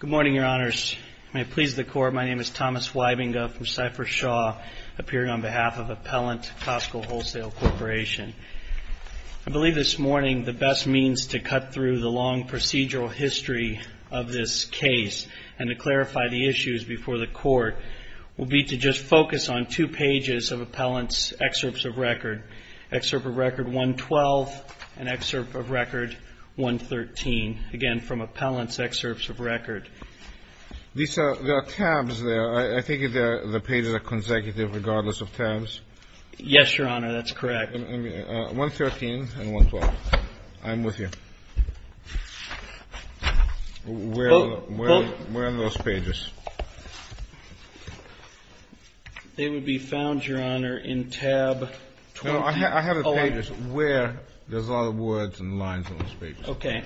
Good morning, Your Honors. May it please the Court, my name is Thomas Wybinga from Cypress Shaw, appearing on behalf of Appellant Costco Wholesale Corporation. I believe this morning the best means to cut through the long procedural history of this case and to clarify the issues before the Court will be to just focus on two pages of Appellant's excerpts of record. Excerpt of record 112 and excerpt of record 113, again, from Appellant's excerpts of record. There are tabs there. I think the pages are consecutive regardless of tabs. Yes, Your Honor, that's correct. 113 and 112. I'm with you. Where are those pages? They would be found, Your Honor, in tab 12. I have the pages. Where? There's a lot of words and lines on those pages. Okay.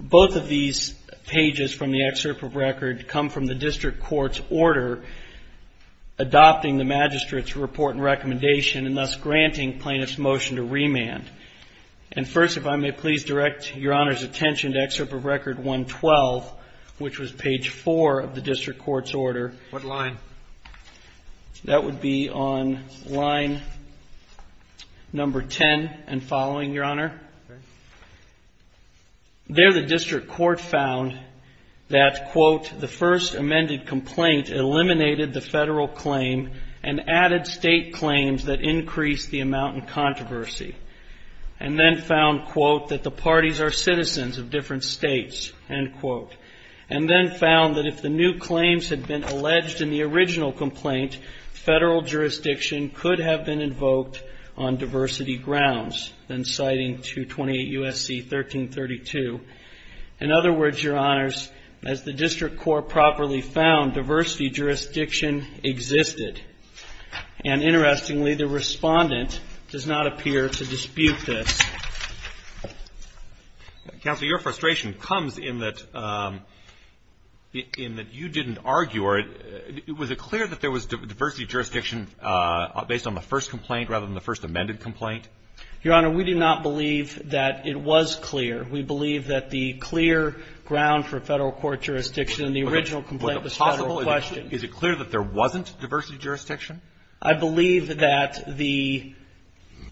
Both of these pages from the excerpt of record come from the district court's order adopting the magistrate's report and recommendation and thus granting plaintiff's motion to remand. And first, if I may please direct Your Honor's attention to excerpt of record 112, which was page 4 of the district court's order. What line? That would be on line number 10 and following, Your Honor. Okay. There the district court found that, quote, the first amended complaint eliminated the Federal claim and added State claims that increased the amount in controversy and then found, quote, that the parties are citizens of different States, end quote, and then found that if the new claims had been alleged in the original complaint, Federal jurisdiction could have been invoked on diversity grounds, then citing 228 U.S.C. 1332. In other words, Your Honors, as the district court properly found, diversity jurisdiction existed. And interestingly, the Respondent does not appear to dispute this. Counsel, your frustration comes in that you didn't argue, or was it clear that there was diversity jurisdiction based on the first complaint rather than the first amended complaint? Your Honor, we do not believe that it was clear. We believe that the clear ground for Federal court jurisdiction in the original complaint was Federal question. Is it clear that there wasn't diversity jurisdiction? I believe that the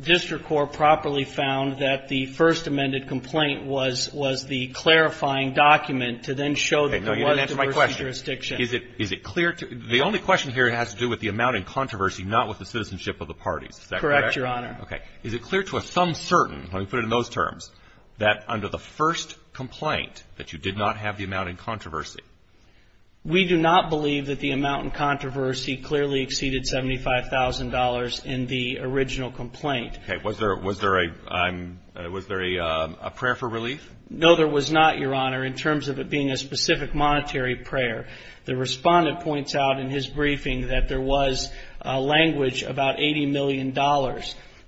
district court properly found that the first amended complaint was the clarifying document to then show that there was diversity jurisdiction. Okay. No, you didn't answer my question. The only question here has to do with the amount in controversy, not with the citizenship of the parties. Is that correct? Correct, Your Honor. Okay. Is it clear to us, some certain, let me put it in those terms, that under the first complaint that you did not have the amount in controversy? We do not believe that the amount in controversy clearly exceeded $75,000 in the original complaint. Okay. Was there a prayer for relief? No, there was not, Your Honor, in terms of it being a specific monetary prayer. The Respondent points out in his briefing that there was language about $80 million,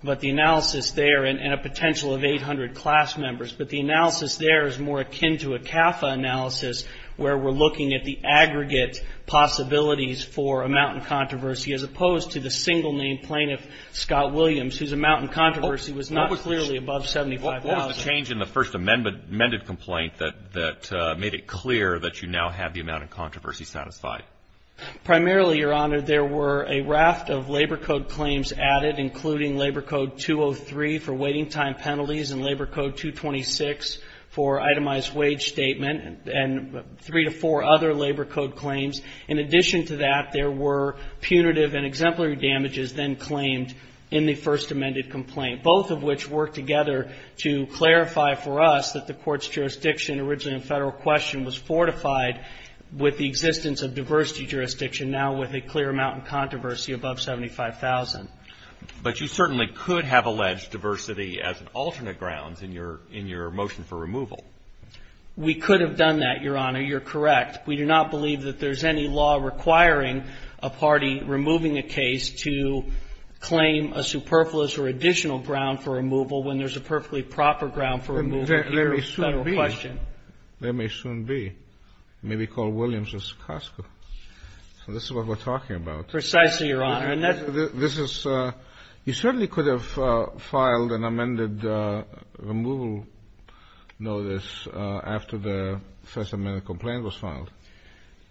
but the analysis there, and a potential of 800 class members, but the analysis there is more akin to a CAFA analysis where we're looking at the aggregate possibilities for amount in controversy, as opposed to the single name plaintiff, Scott Williams, whose amount in controversy was not clearly above $75,000. What was the change in the first amended complaint that made it clear that you now have the amount in controversy satisfied? Primarily, Your Honor, there were a raft of Labor Code claims added, including Labor Code 203 for waiting time penalties and Labor Code 226 for itemized wage statement, and three to four other Labor Code claims. In addition to that, there were punitive and exemplary damages then claimed in the first amended complaint, both of which worked together to clarify for us that the Court's jurisdiction, originally in Federal question, was fortified with the existence of diversity jurisdiction, now with a clear amount in controversy above $75,000. But you certainly could have alleged diversity as an alternate grounds in your motion for removal. We could have done that, Your Honor. You're correct. We do not believe that there's any law requiring a party removing a case to claim a superfluous or additional ground for removal when there's a perfectly proper ground for removal here in Federal question. There may soon be. It may be called Williams v. Costco. So this is what we're talking about. Precisely, Your Honor. This is you certainly could have filed an amended removal notice after the first amended complaint was filed.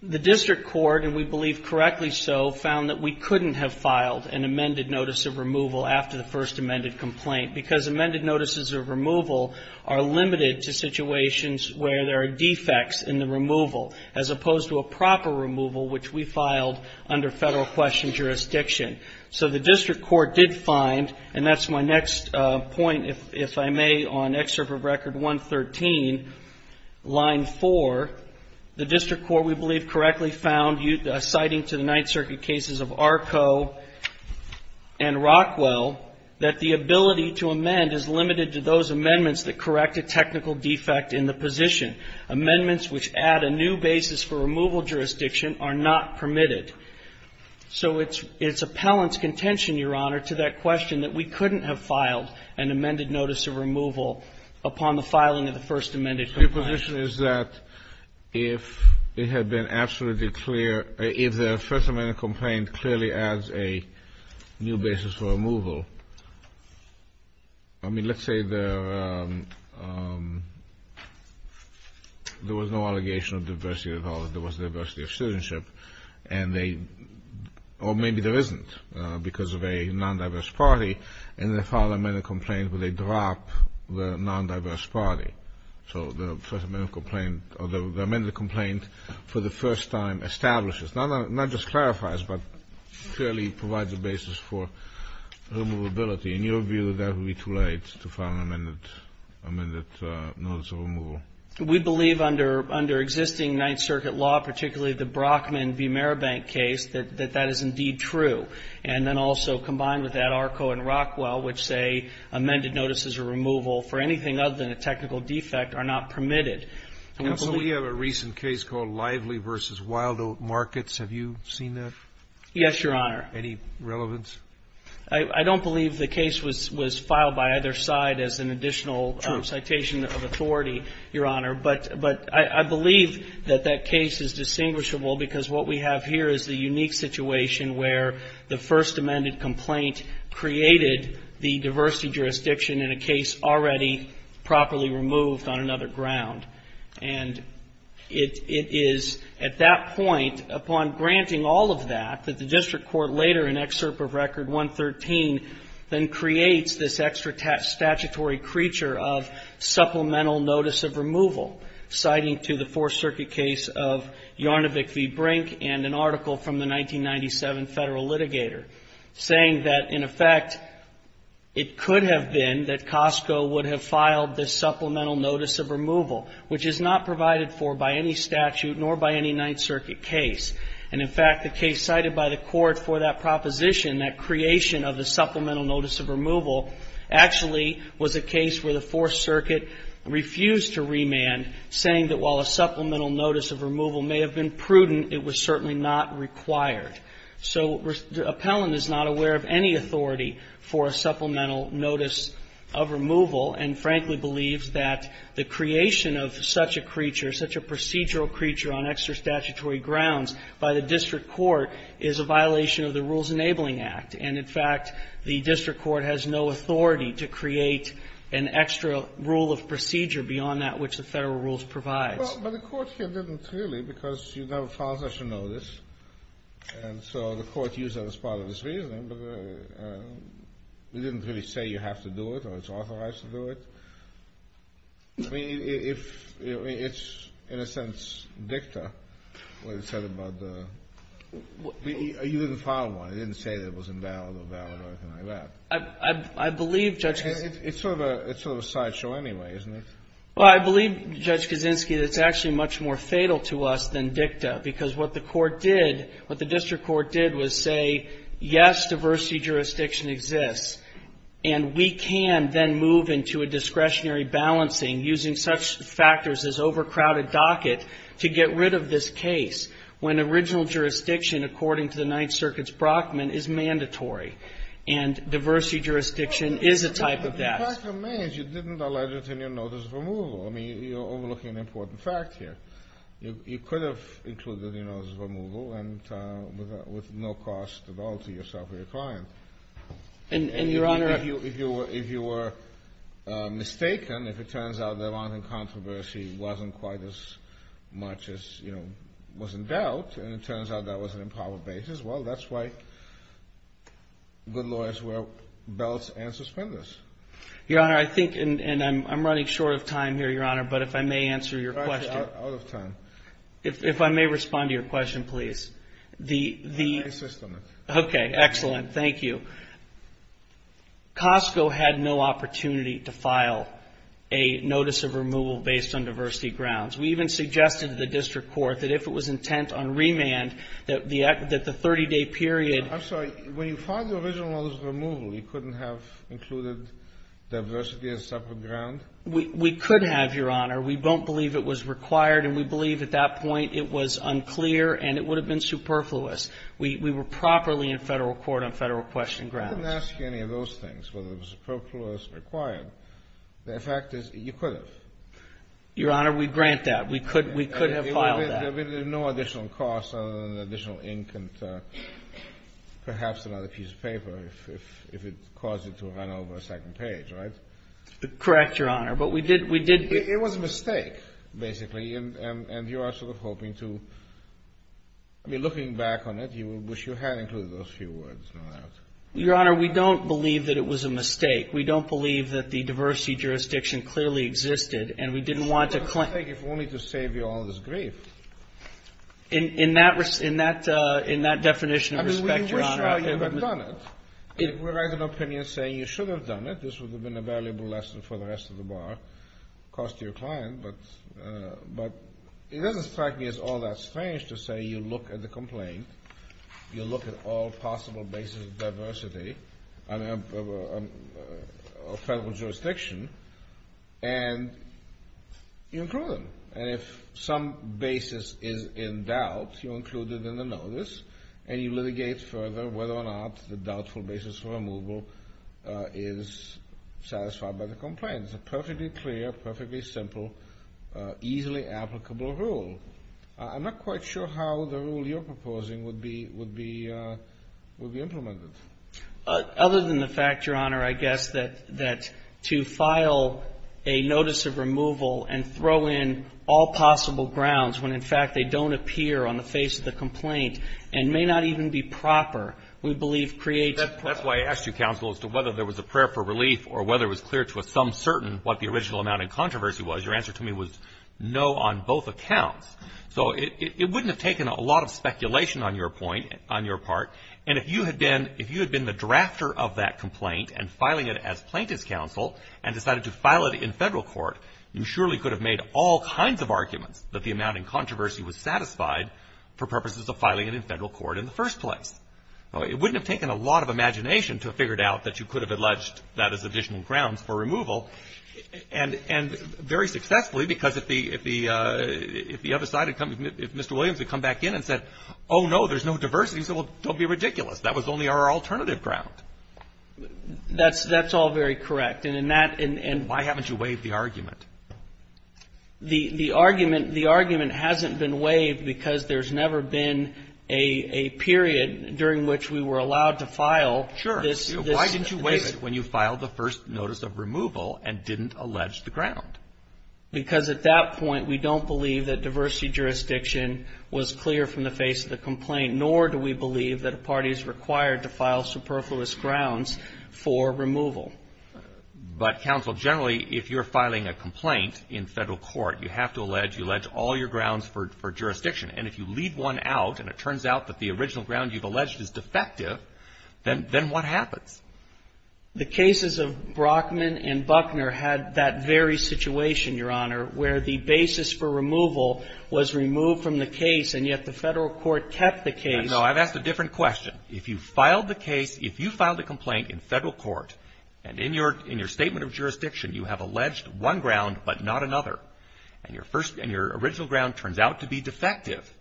The district court, and we believe correctly so, found that we couldn't have filed an amended notice of removal after the first amended complaint because amended notices of removal are limited to situations where there are defects in the removal, as opposed to a proper removal, which we filed under Federal question jurisdiction. So the district court did find, and that's my next point, if I may, on Excerpt of Record 113, line 4. The district court, we believe, correctly found, citing to the Ninth Circuit cases of Arco and Rockwell, that the ability to amend is limited to those amendments that correct a technical defect in the position. Amendments which add a new basis for removal jurisdiction are not permitted. So it's appellant's contention, Your Honor, to that question that we couldn't have filed an amended notice of removal upon the filing of the first amended complaint. Your position is that if it had been absolutely clear, if the first amended complaint clearly adds a new basis for removal, I mean, let's say there was no allegation of diversity at all, there was diversity of citizenship, or maybe there isn't because of a non-diverse party, and they filed an amended complaint, but they dropped the non-diverse party. So the first amended complaint for the first time establishes, not just clarifies, but clearly provides a basis for removability. In your view, that would be too late to file an amended notice of removal. We believe under existing Ninth Circuit law, particularly the Brockman v. Maribank case, that that is indeed true. And then also combined with that, Arco and Rockwell, which say amended notice is a removal for anything other than a technical defect, are not permitted. Counsel, we have a recent case called Lively v. Wildoat Markets. Have you seen that? Yes, Your Honor. Any relevance? I don't believe the case was filed by either side as an additional citation of authority, Your Honor. But I believe that that case is distinguishable because what we have here is the unique situation where the first amended complaint created the diversity jurisdiction in a case already properly removed on another ground. And it is at that point, upon granting all of that, that the district court later in Excerpt of Record 113 then creates this extra statutory creature of supplemental notice of removal, citing to the Fourth Circuit case of Yarnovick v. Brink and an article from the 1997 Federal Litigator saying that, in effect, it could have been that Costco would have filed this supplemental notice of removal which is not provided for by any statute nor by any Ninth Circuit case. And, in fact, the case cited by the Court for that proposition, that creation of the supplemental notice of removal, actually was a case where the Fourth Circuit refused to remand, saying that while a supplemental notice of removal may have been prudent, it was certainly not required. So Appellant is not aware of any authority for a supplemental notice of removal and, frankly, believes that the creation of such a creature, such a procedural creature on extra statutory grounds by the district court, is a violation of the Rules Enabling Act. And, in fact, the district court has no authority to create an extra rule of procedure beyond that which the Federal rules provides. Kennedy. Well, but the Court here didn't really because you never filed such a notice. And so the Court used that as part of its reasoning. But it didn't really say you have to do it or it's authorized to do it. I mean, if it's in a sense dicta, what it said about the you didn't file one. It didn't say that it was invalid or valid or anything like that. I believe, Judge Kaczynski. It's sort of a sideshow anyway, isn't it? Well, I believe, Judge Kaczynski, that it's actually much more fatal to us than dicta because what the court did, what the district court did was say, yes, diversity jurisdiction exists. And we can then move into a discretionary balancing using such factors as overcrowded docket to get rid of this case when original jurisdiction, according to the Ninth Circuit's Brockman, is mandatory. And diversity jurisdiction is a type of that. But the fact remains you didn't allege it in your notice of removal. I mean, you're overlooking an important fact here. You could have included the notice of removal with no cost at all to yourself or your client. And, Your Honor. If you were mistaken, if it turns out the amount in controversy wasn't quite as much as was in doubt and it turns out that was an improper basis, well, that's why good lawyers wear belts and suspenders. Your Honor, I think, and I'm running short of time here, Your Honor, but if I may answer your question. Out of time. If I may respond to your question, please. I'll make a system. Okay. Excellent. Thank you. Costco had no opportunity to file a notice of removal based on diversity grounds. We even suggested to the district court that if it was intent on remand, that the 30-day period. I'm sorry. When you filed the original notice of removal, you couldn't have included diversity as a separate ground? We could have, Your Honor. We don't believe it was required, and we believe at that point it was unclear and it would have been superfluous. We were properly in Federal court on Federal question grounds. I didn't ask you any of those things, whether it was superfluous or required. The fact is, you could have. Your Honor, we grant that. We could have filed that. There would have been no additional cost other than additional ink and perhaps another piece of paper if it caused it to run over a second page, right? Correct, Your Honor. It was a mistake, basically, and you are sort of hoping to be looking back on it. You wish you had included those few words, no doubt. Your Honor, we don't believe that it was a mistake. We don't believe that the diversity jurisdiction clearly existed, and we didn't want to claim it. It was a mistake if only to save you all this grief. In that definition of respect, Your Honor. I mean, we wish you had done it. We're writing an opinion saying you should have done it. This would have been a valuable lesson for the rest of the bar, of course, to your client. But it doesn't strike me as all that strange to say you look at the complaint, you look at all possible bases of diversity of Federal jurisdiction, and you include them. And if some basis is in doubt, you include it in the notice, and you litigate further whether or not the doubtful basis for removal is satisfied by the complaint. It's a perfectly clear, perfectly simple, easily applicable rule. I'm not quite sure how the rule you're proposing would be implemented. Other than the fact, Your Honor, I guess that to file a notice of removal and throw in all possible grounds when, in fact, they don't appear on the face of the complaint and may not even be proper, we believe creates a problem. That's why I asked you, counsel, as to whether there was a prayer for relief or whether it was clear to some certain what the original amount in controversy was. Your answer to me was no on both accounts. So it wouldn't have taken a lot of speculation on your point, on your part. And if you had been the drafter of that complaint and filing it as plaintiff's counsel and decided to file it in Federal court, you surely could have made all kinds of arguments that the amount in controversy was satisfied for purposes of filing it in Federal court in the first place. It wouldn't have taken a lot of imagination to have figured out that you could have alleged that as additional grounds for removal, and very successfully, because if the other side had come, if Mr. Williams had come back in and said, oh, no, there's no diversity, he said, well, don't be ridiculous. That was only our alternative ground. That's all very correct. Why haven't you waived the argument? The argument hasn't been waived because there's never been a period during which we were allowed to file. Sure. Why didn't you waive it when you filed the first notice of removal and didn't allege the ground? Because at that point, we don't believe that diversity jurisdiction was clear from the face of the complaint, nor do we believe that a party is required to file superfluous grounds for removal. But, counsel, generally, if you're filing a complaint in Federal court, you have to allege all your grounds for jurisdiction, and if you leave one out and it turns out that the original ground you've alleged is defective, then what happens? The cases of Brockman and Buckner had that very situation, Your Honor, where the basis for removal was removed from the case, and yet the Federal court kept the case. No, I've asked a different question. If you filed the case, if you filed a complaint in Federal court, and in your statement of jurisdiction you have alleged one ground but not another, and your original ground turns out to be defective,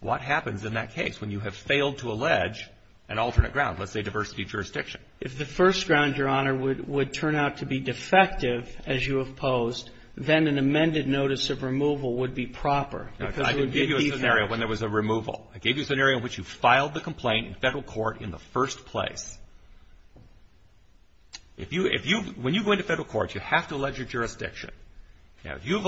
what happens in that case when you have failed to allege an alternate ground, let's say diversity jurisdiction? If the first ground, Your Honor, would turn out to be defective, as you have posed, then an amended notice of removal would be proper. I can give you a scenario when there was a removal. I gave you a scenario in which you filed the complaint in Federal court in the first place. When you go into Federal court, you have to allege your jurisdiction. Now, if you've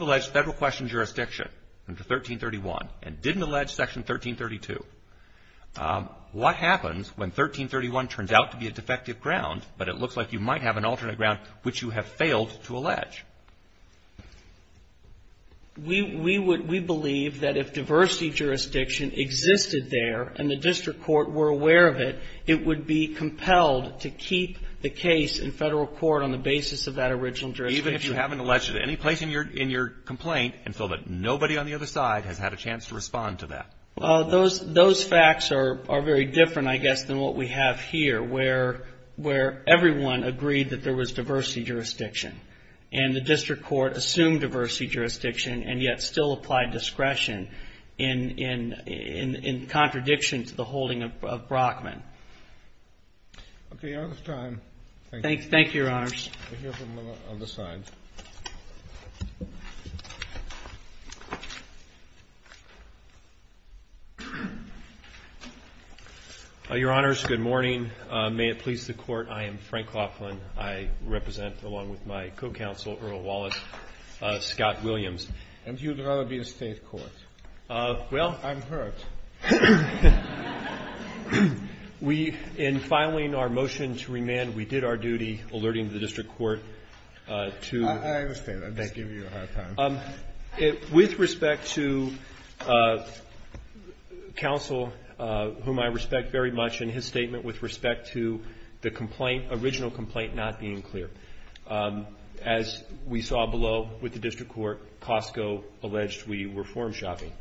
alleged Federal question jurisdiction under 1331 and didn't allege Section 1332, what happens when 1331 turns out to be a defective ground, but it looks like you might have an alternate ground which you have failed to allege? We believe that if diversity jurisdiction existed there and the district court were aware of it, it would be compelled to keep the case in Federal court on the basis of that original jurisdiction. Even if you haven't alleged it at any place in your complaint until nobody on the other side has had a chance to respond to that? Those facts are very different, I guess, than what we have here, where everyone agreed that there was diversity jurisdiction, and the district court assumed diversity jurisdiction and yet still applied discretion in contradiction to the holding of Brockman. Okay. Your Honor, it's time. Thank you, Your Honors. I hear from the other side. Your Honors, good morning. May it please the Court, I am Frank Laughlin. I represent, along with my co-counsel, Earl Wallace, Scott Williams. And you'd rather be a State court. Well, I'm hurt. We, in filing our motion to remand, we did our duty, alerting the district court to… I understand. I'm just giving you a hard time. With respect to counsel, whom I respect very much, and his statement with respect to the complaint, original complaint, not being clear. As we saw below with the district court, Costco alleged we were form shopping.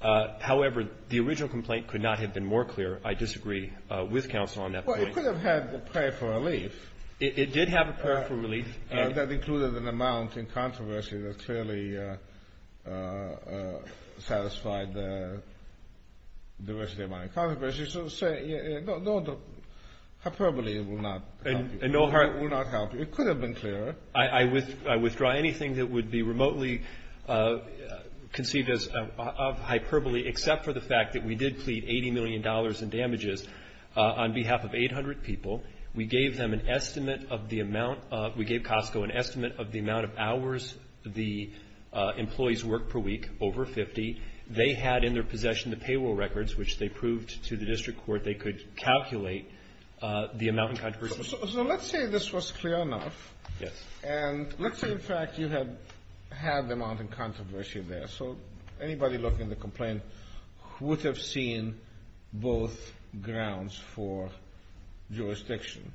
However, the original complaint could not have been more clear. I disagree with counsel on that point. Well, it could have had a prayer for relief. It did have a prayer for relief. That included an amount in controversy that clearly satisfied the diversity of my controversy. So to say no hyperbole will not help you. It will not help you. It could have been clearer. I withdraw anything that would be remotely conceived of as hyperbole, except for the fact that we did plead $80 million in damages on behalf of 800 people. We gave them an estimate of the amount of — we gave Costco an estimate of the amount of hours the employees worked per week, over 50. They had in their possession the payroll records, which they proved to the district court they could calculate the amount in controversy. So let's say this was clear enough. Yes. And let's say, in fact, you had the amount in controversy there. So anybody looking at the complaint would have seen both grounds for jurisdiction.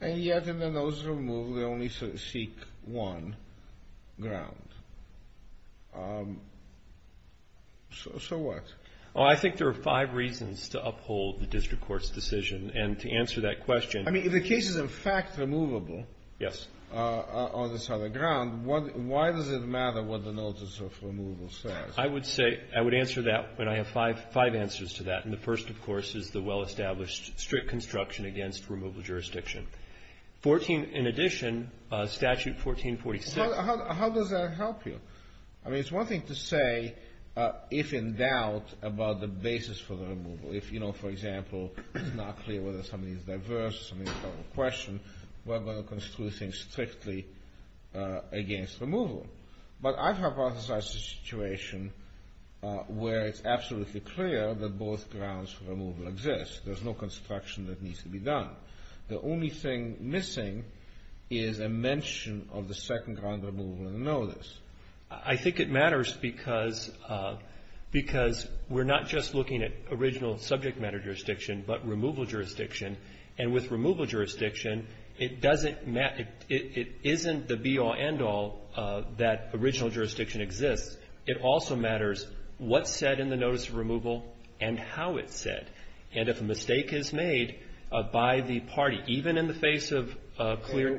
And yet, in the nose of a move, they only seek one ground. So what? Well, I think there are five reasons to uphold the district court's decision. And to answer that question — I mean, if the case is, in fact, removable — Yes. — on this other ground, why does it matter what the notice of removal says? I would say — I would answer that when I have five answers to that. And the first, of course, is the well-established strict construction against removal jurisdiction. Fourteen — in addition, Statute 1446 — How does that help you? I mean, it's one thing to say, if in doubt, about the basis for the removal. If, you know, for example, it's not clear whether somebody's diverse, somebody's got a question, we're going to construe things strictly against removal. But I've hypothesized a situation where it's absolutely clear that both grounds for removal exist. There's no construction that needs to be done. The only thing missing is a mention of the second ground removal in the notice. I think it matters because — because we're not just looking at original subject matter jurisdiction, but removal jurisdiction. And with removal jurisdiction, it doesn't — it isn't the be-all, end-all that original jurisdiction exists. It also matters what's said in the notice of removal and how it's said. And if a mistake is made by the party, even in the face of clear —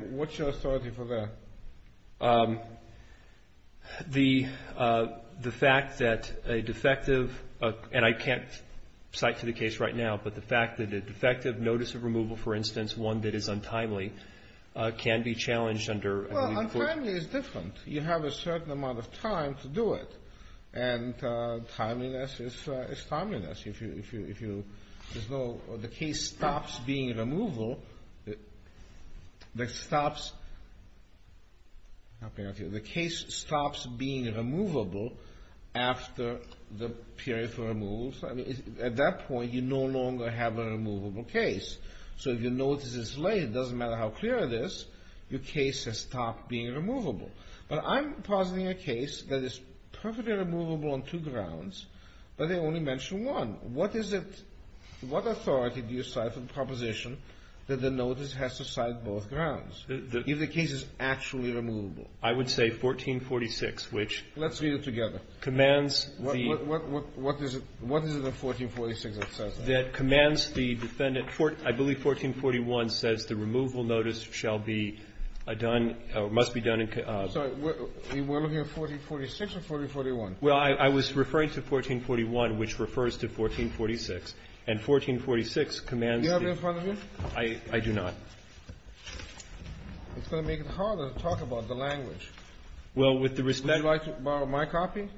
The fact that a defective — and I can't cite to the case right now, but the fact that a defective notice of removal, for instance, one that is untimely, can be challenged under — Well, untimely is different. You have a certain amount of time to do it. And timeliness is timeliness. If you — if you — there's no — the case stops being removal. The case stops being removable after the period for removal. I mean, at that point, you no longer have a removable case. So if your notice is late, it doesn't matter how clear it is, your case has stopped being removable. But I'm positing a case that is perfectly removable on two grounds, but they only mention one. What is it — what authority do you cite for the proposition that the notice has to cite both grounds? If the case is actually removable. I would say 1446, which commands the — Let's read it together. What is it in 1446 that says that? That commands the defendant — I believe 1441 says the removal notice shall be done or must be done in — I'm sorry. We're looking at 1446 or 1441? Well, I was referring to 1441, which refers to 1446. And 1446 commands the — Do you have it in front of you? I do not. It's going to make it harder to talk about the language. Well, with the respect — Would you like to borrow my copy?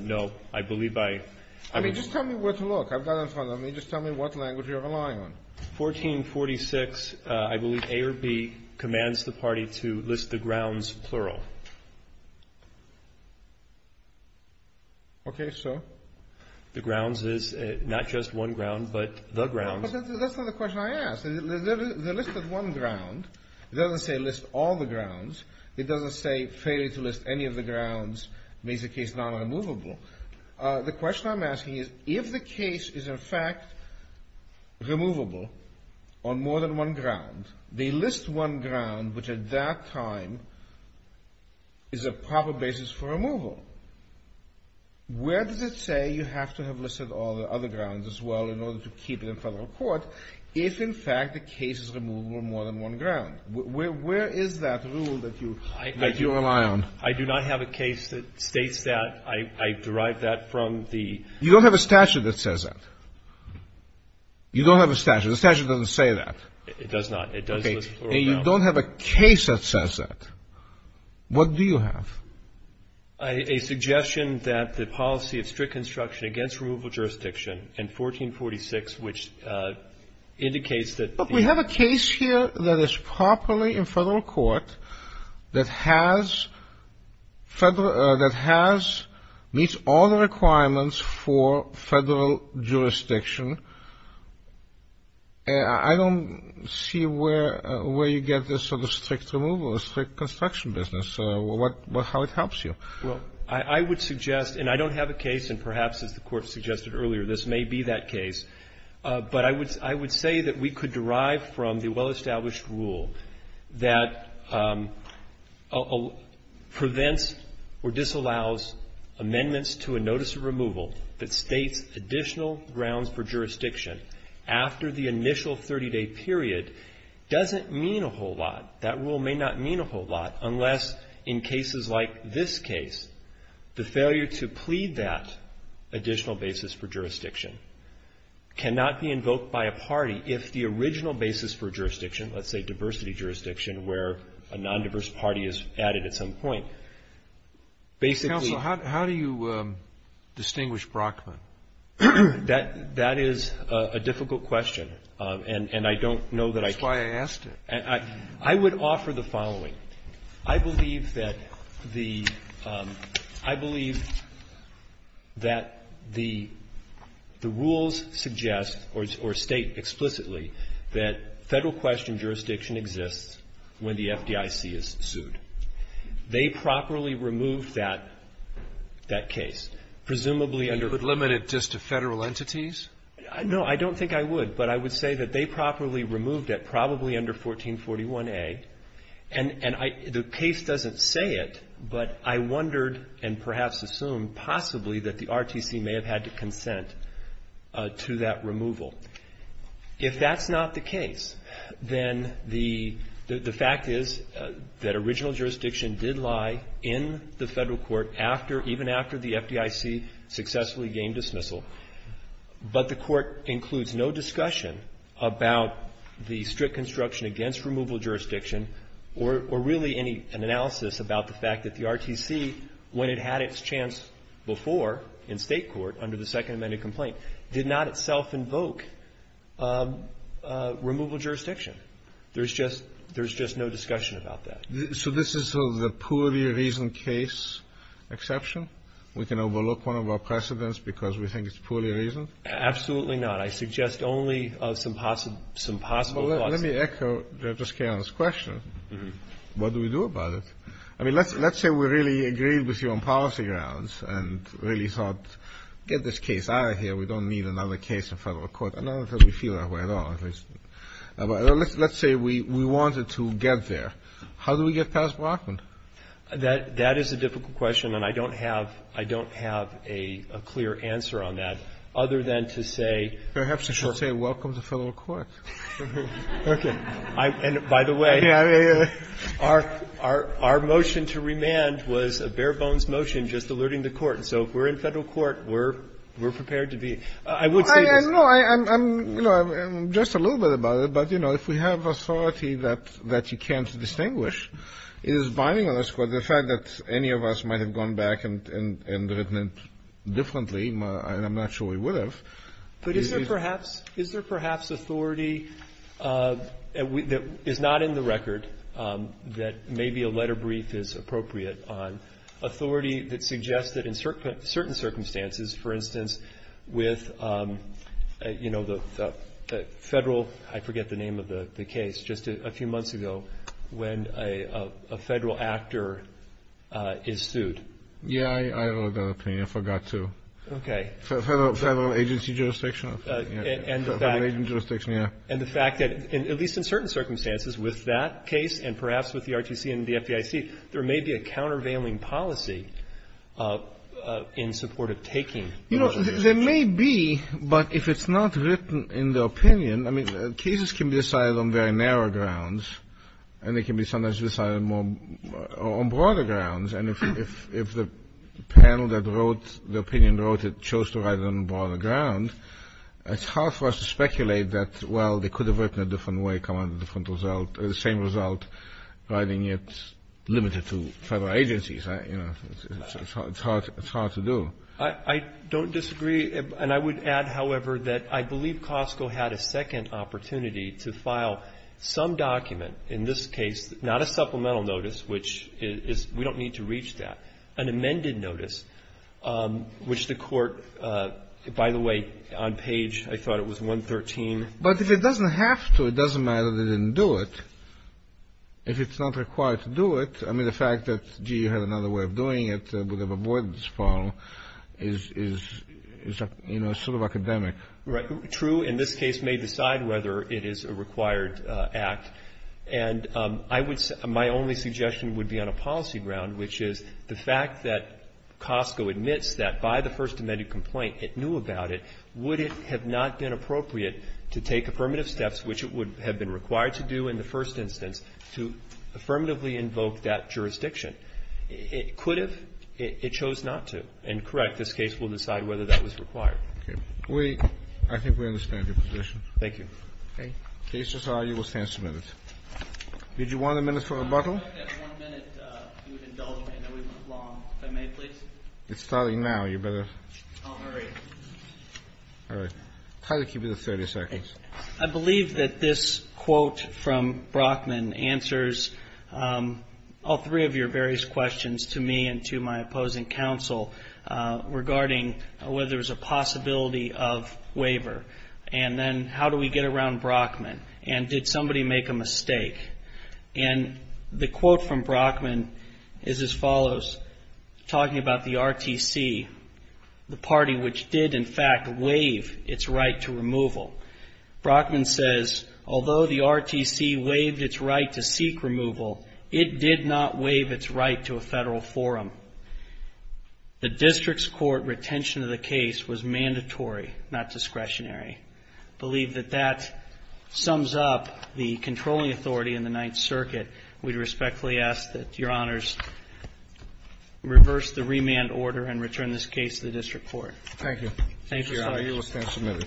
No. I believe I — I mean, just tell me where to look. I've got it in front of me. Just tell me what language you're relying on. 1446, I believe, A or B commands the party to list the grounds plural. Okay, so? The grounds is not just one ground, but the grounds — That's not the question I asked. The list of one ground doesn't say list all the grounds. It doesn't say failure to list any of the grounds makes the case non-removable. The question I'm asking is, if the case is, in fact, removable on more than one ground, they list one ground, which at that time is a proper basis for removal, where does it say you have to have listed all the other grounds as well in order to keep it in federal court if, in fact, the case is removable on more than one ground? Where is that rule that you rely on? I do not have a case that states that. I derive that from the — You don't have a statute that says that. You don't have a statute. The statute doesn't say that. It does not. It does list plural grounds. Okay. And you don't have a case that says that. What do you have? A suggestion that the policy of strict construction against removable jurisdiction in 1446, which indicates that the — that has — meets all the requirements for federal jurisdiction. I don't see where you get this sort of strict removal, strict construction business, how it helps you. Well, I would suggest, and I don't have a case, and perhaps, as the Court suggested earlier, this may be that case, but I would say that we could derive from the well-established rule that prevents or disallows amendments to a notice of removal that states additional grounds for jurisdiction after the initial 30-day period doesn't mean a whole lot. That rule may not mean a whole lot unless, in cases like this case, the failure to plead that additional basis for jurisdiction cannot be invoked by a party if the original basis for jurisdiction, let's say diversity jurisdiction, where a nondiverse party is added at some point, basically — Counsel, how do you distinguish Brockman? That is a difficult question, and I don't know that I can. That's why I asked it. I would offer the following. I believe that the — I believe that the rules suggest or state explicitly that Federal question jurisdiction exists when the FDIC is sued. They properly removed that case, presumably under — You could limit it just to Federal entities? No. I don't think I would. But I would say that they properly removed it, probably under 1441A. And the case doesn't say it, but I wondered and perhaps assumed possibly that the RTC may have had to consent to that removal. If that's not the case, then the fact is that original jurisdiction did lie in the Federal court even after the FDIC successfully gained dismissal, but the Court includes no discussion about the strict construction against removal jurisdiction or really any analysis about the fact that the RTC, when it had its chance before in State court under the Second Amendment complaint, did not itself invoke removal jurisdiction. There's just — there's just no discussion about that. So this is the poorly reasoned case exception? We can overlook one of our precedents because we think it's poorly reasoned? Absolutely not. I suggest only some possible — some possible causes. Let me echo Justice Kagan's question. What do we do about it? I mean, let's say we really agreed with you on policy grounds and really thought get this case out of here. We don't need another case in Federal court. I don't think we feel that way at all, at least. Let's say we wanted to get there. How do we get past Brockman? That is a difficult question, and I don't have — I don't have a clear answer on that other than to say — Perhaps you should say welcome to Federal court. Okay. And by the way, our motion to remand was a bare-bones motion just alerting the Court. So if we're in Federal court, we're prepared to be — I would say — No, I'm — you know, I'm just a little bit about it, but, you know, if we have authority that you can't distinguish, it is binding on us. But the fact that any of us might have gone back and written it differently, and I'm not sure we would have. But is there perhaps — is there perhaps authority that is not in the record that maybe a letter brief is appropriate on authority that suggests that in certain circumstances, for instance, with, you know, the Federal — I forget the name of the case just a few months ago when a Federal actor is sued? Yeah. I wrote that opinion. I forgot, too. Okay. Federal agency jurisdiction. And the fact — Federal agency jurisdiction, yeah. And the fact that, at least in certain circumstances, with that case and perhaps with the RTC and the FDIC, there may be a countervailing policy in support of taking — You know, there may be, but if it's not written in the opinion — I mean, cases can be decided on very narrow grounds, and they can be sometimes decided more — on broader grounds. And if the panel that wrote the opinion wrote it chose to write it on a broader ground, it's hard for us to speculate that, well, they could have written it a different way, come out with a different result, the same result, writing it limited to Federal agencies. You know, it's hard — it's hard to do. I don't disagree. And I would add, however, that I believe Costco had a second opportunity to file some document, in this case, not a supplemental notice, which is — we don't need to reach that — an amended notice, which the Court — by the way, on page — I thought it was 113. But if it doesn't have to, it doesn't matter that they didn't do it. If it's not required to do it — I mean, the fact that, gee, you had another way of filing is — is, you know, sort of academic. Right. True, in this case, may decide whether it is a required act. And I would — my only suggestion would be on a policy ground, which is the fact that Costco admits that, by the First Amendment complaint, it knew about it. Would it have not been appropriate to take affirmative steps, which it would have been required to do in the first instance, to affirmatively invoke that jurisdiction? It could have. It chose not to. And, correct, this case will decide whether that was required. Okay. We — I think we understand your position. Thank you. Okay. The case is argued. We'll stand some minutes. Did you want a minute for rebuttal? I would like to have one minute. If you would indulge me. I know we went long. If I may, please. It's starting now. You better — I'll hurry. All right. I'll try to keep it at 30 seconds. I believe that this quote from Brockman answers all three of your various questions to me and to my opposing counsel regarding whether there's a possibility of waiver, and then how do we get around Brockman, and did somebody make a mistake. And the quote from Brockman is as follows, talking about the RTC, the party which did, in fact, waive its right to removal, Brockman says, although the RTC waived its right to seek removal, it did not waive its right to a federal forum. The district's court retention of the case was mandatory, not discretionary. I believe that that sums up the controlling authority in the Ninth Circuit. We respectfully ask that your honors reverse the remand order and return this case to the district court. Thank you. Thank you, sir. You will stand submitted.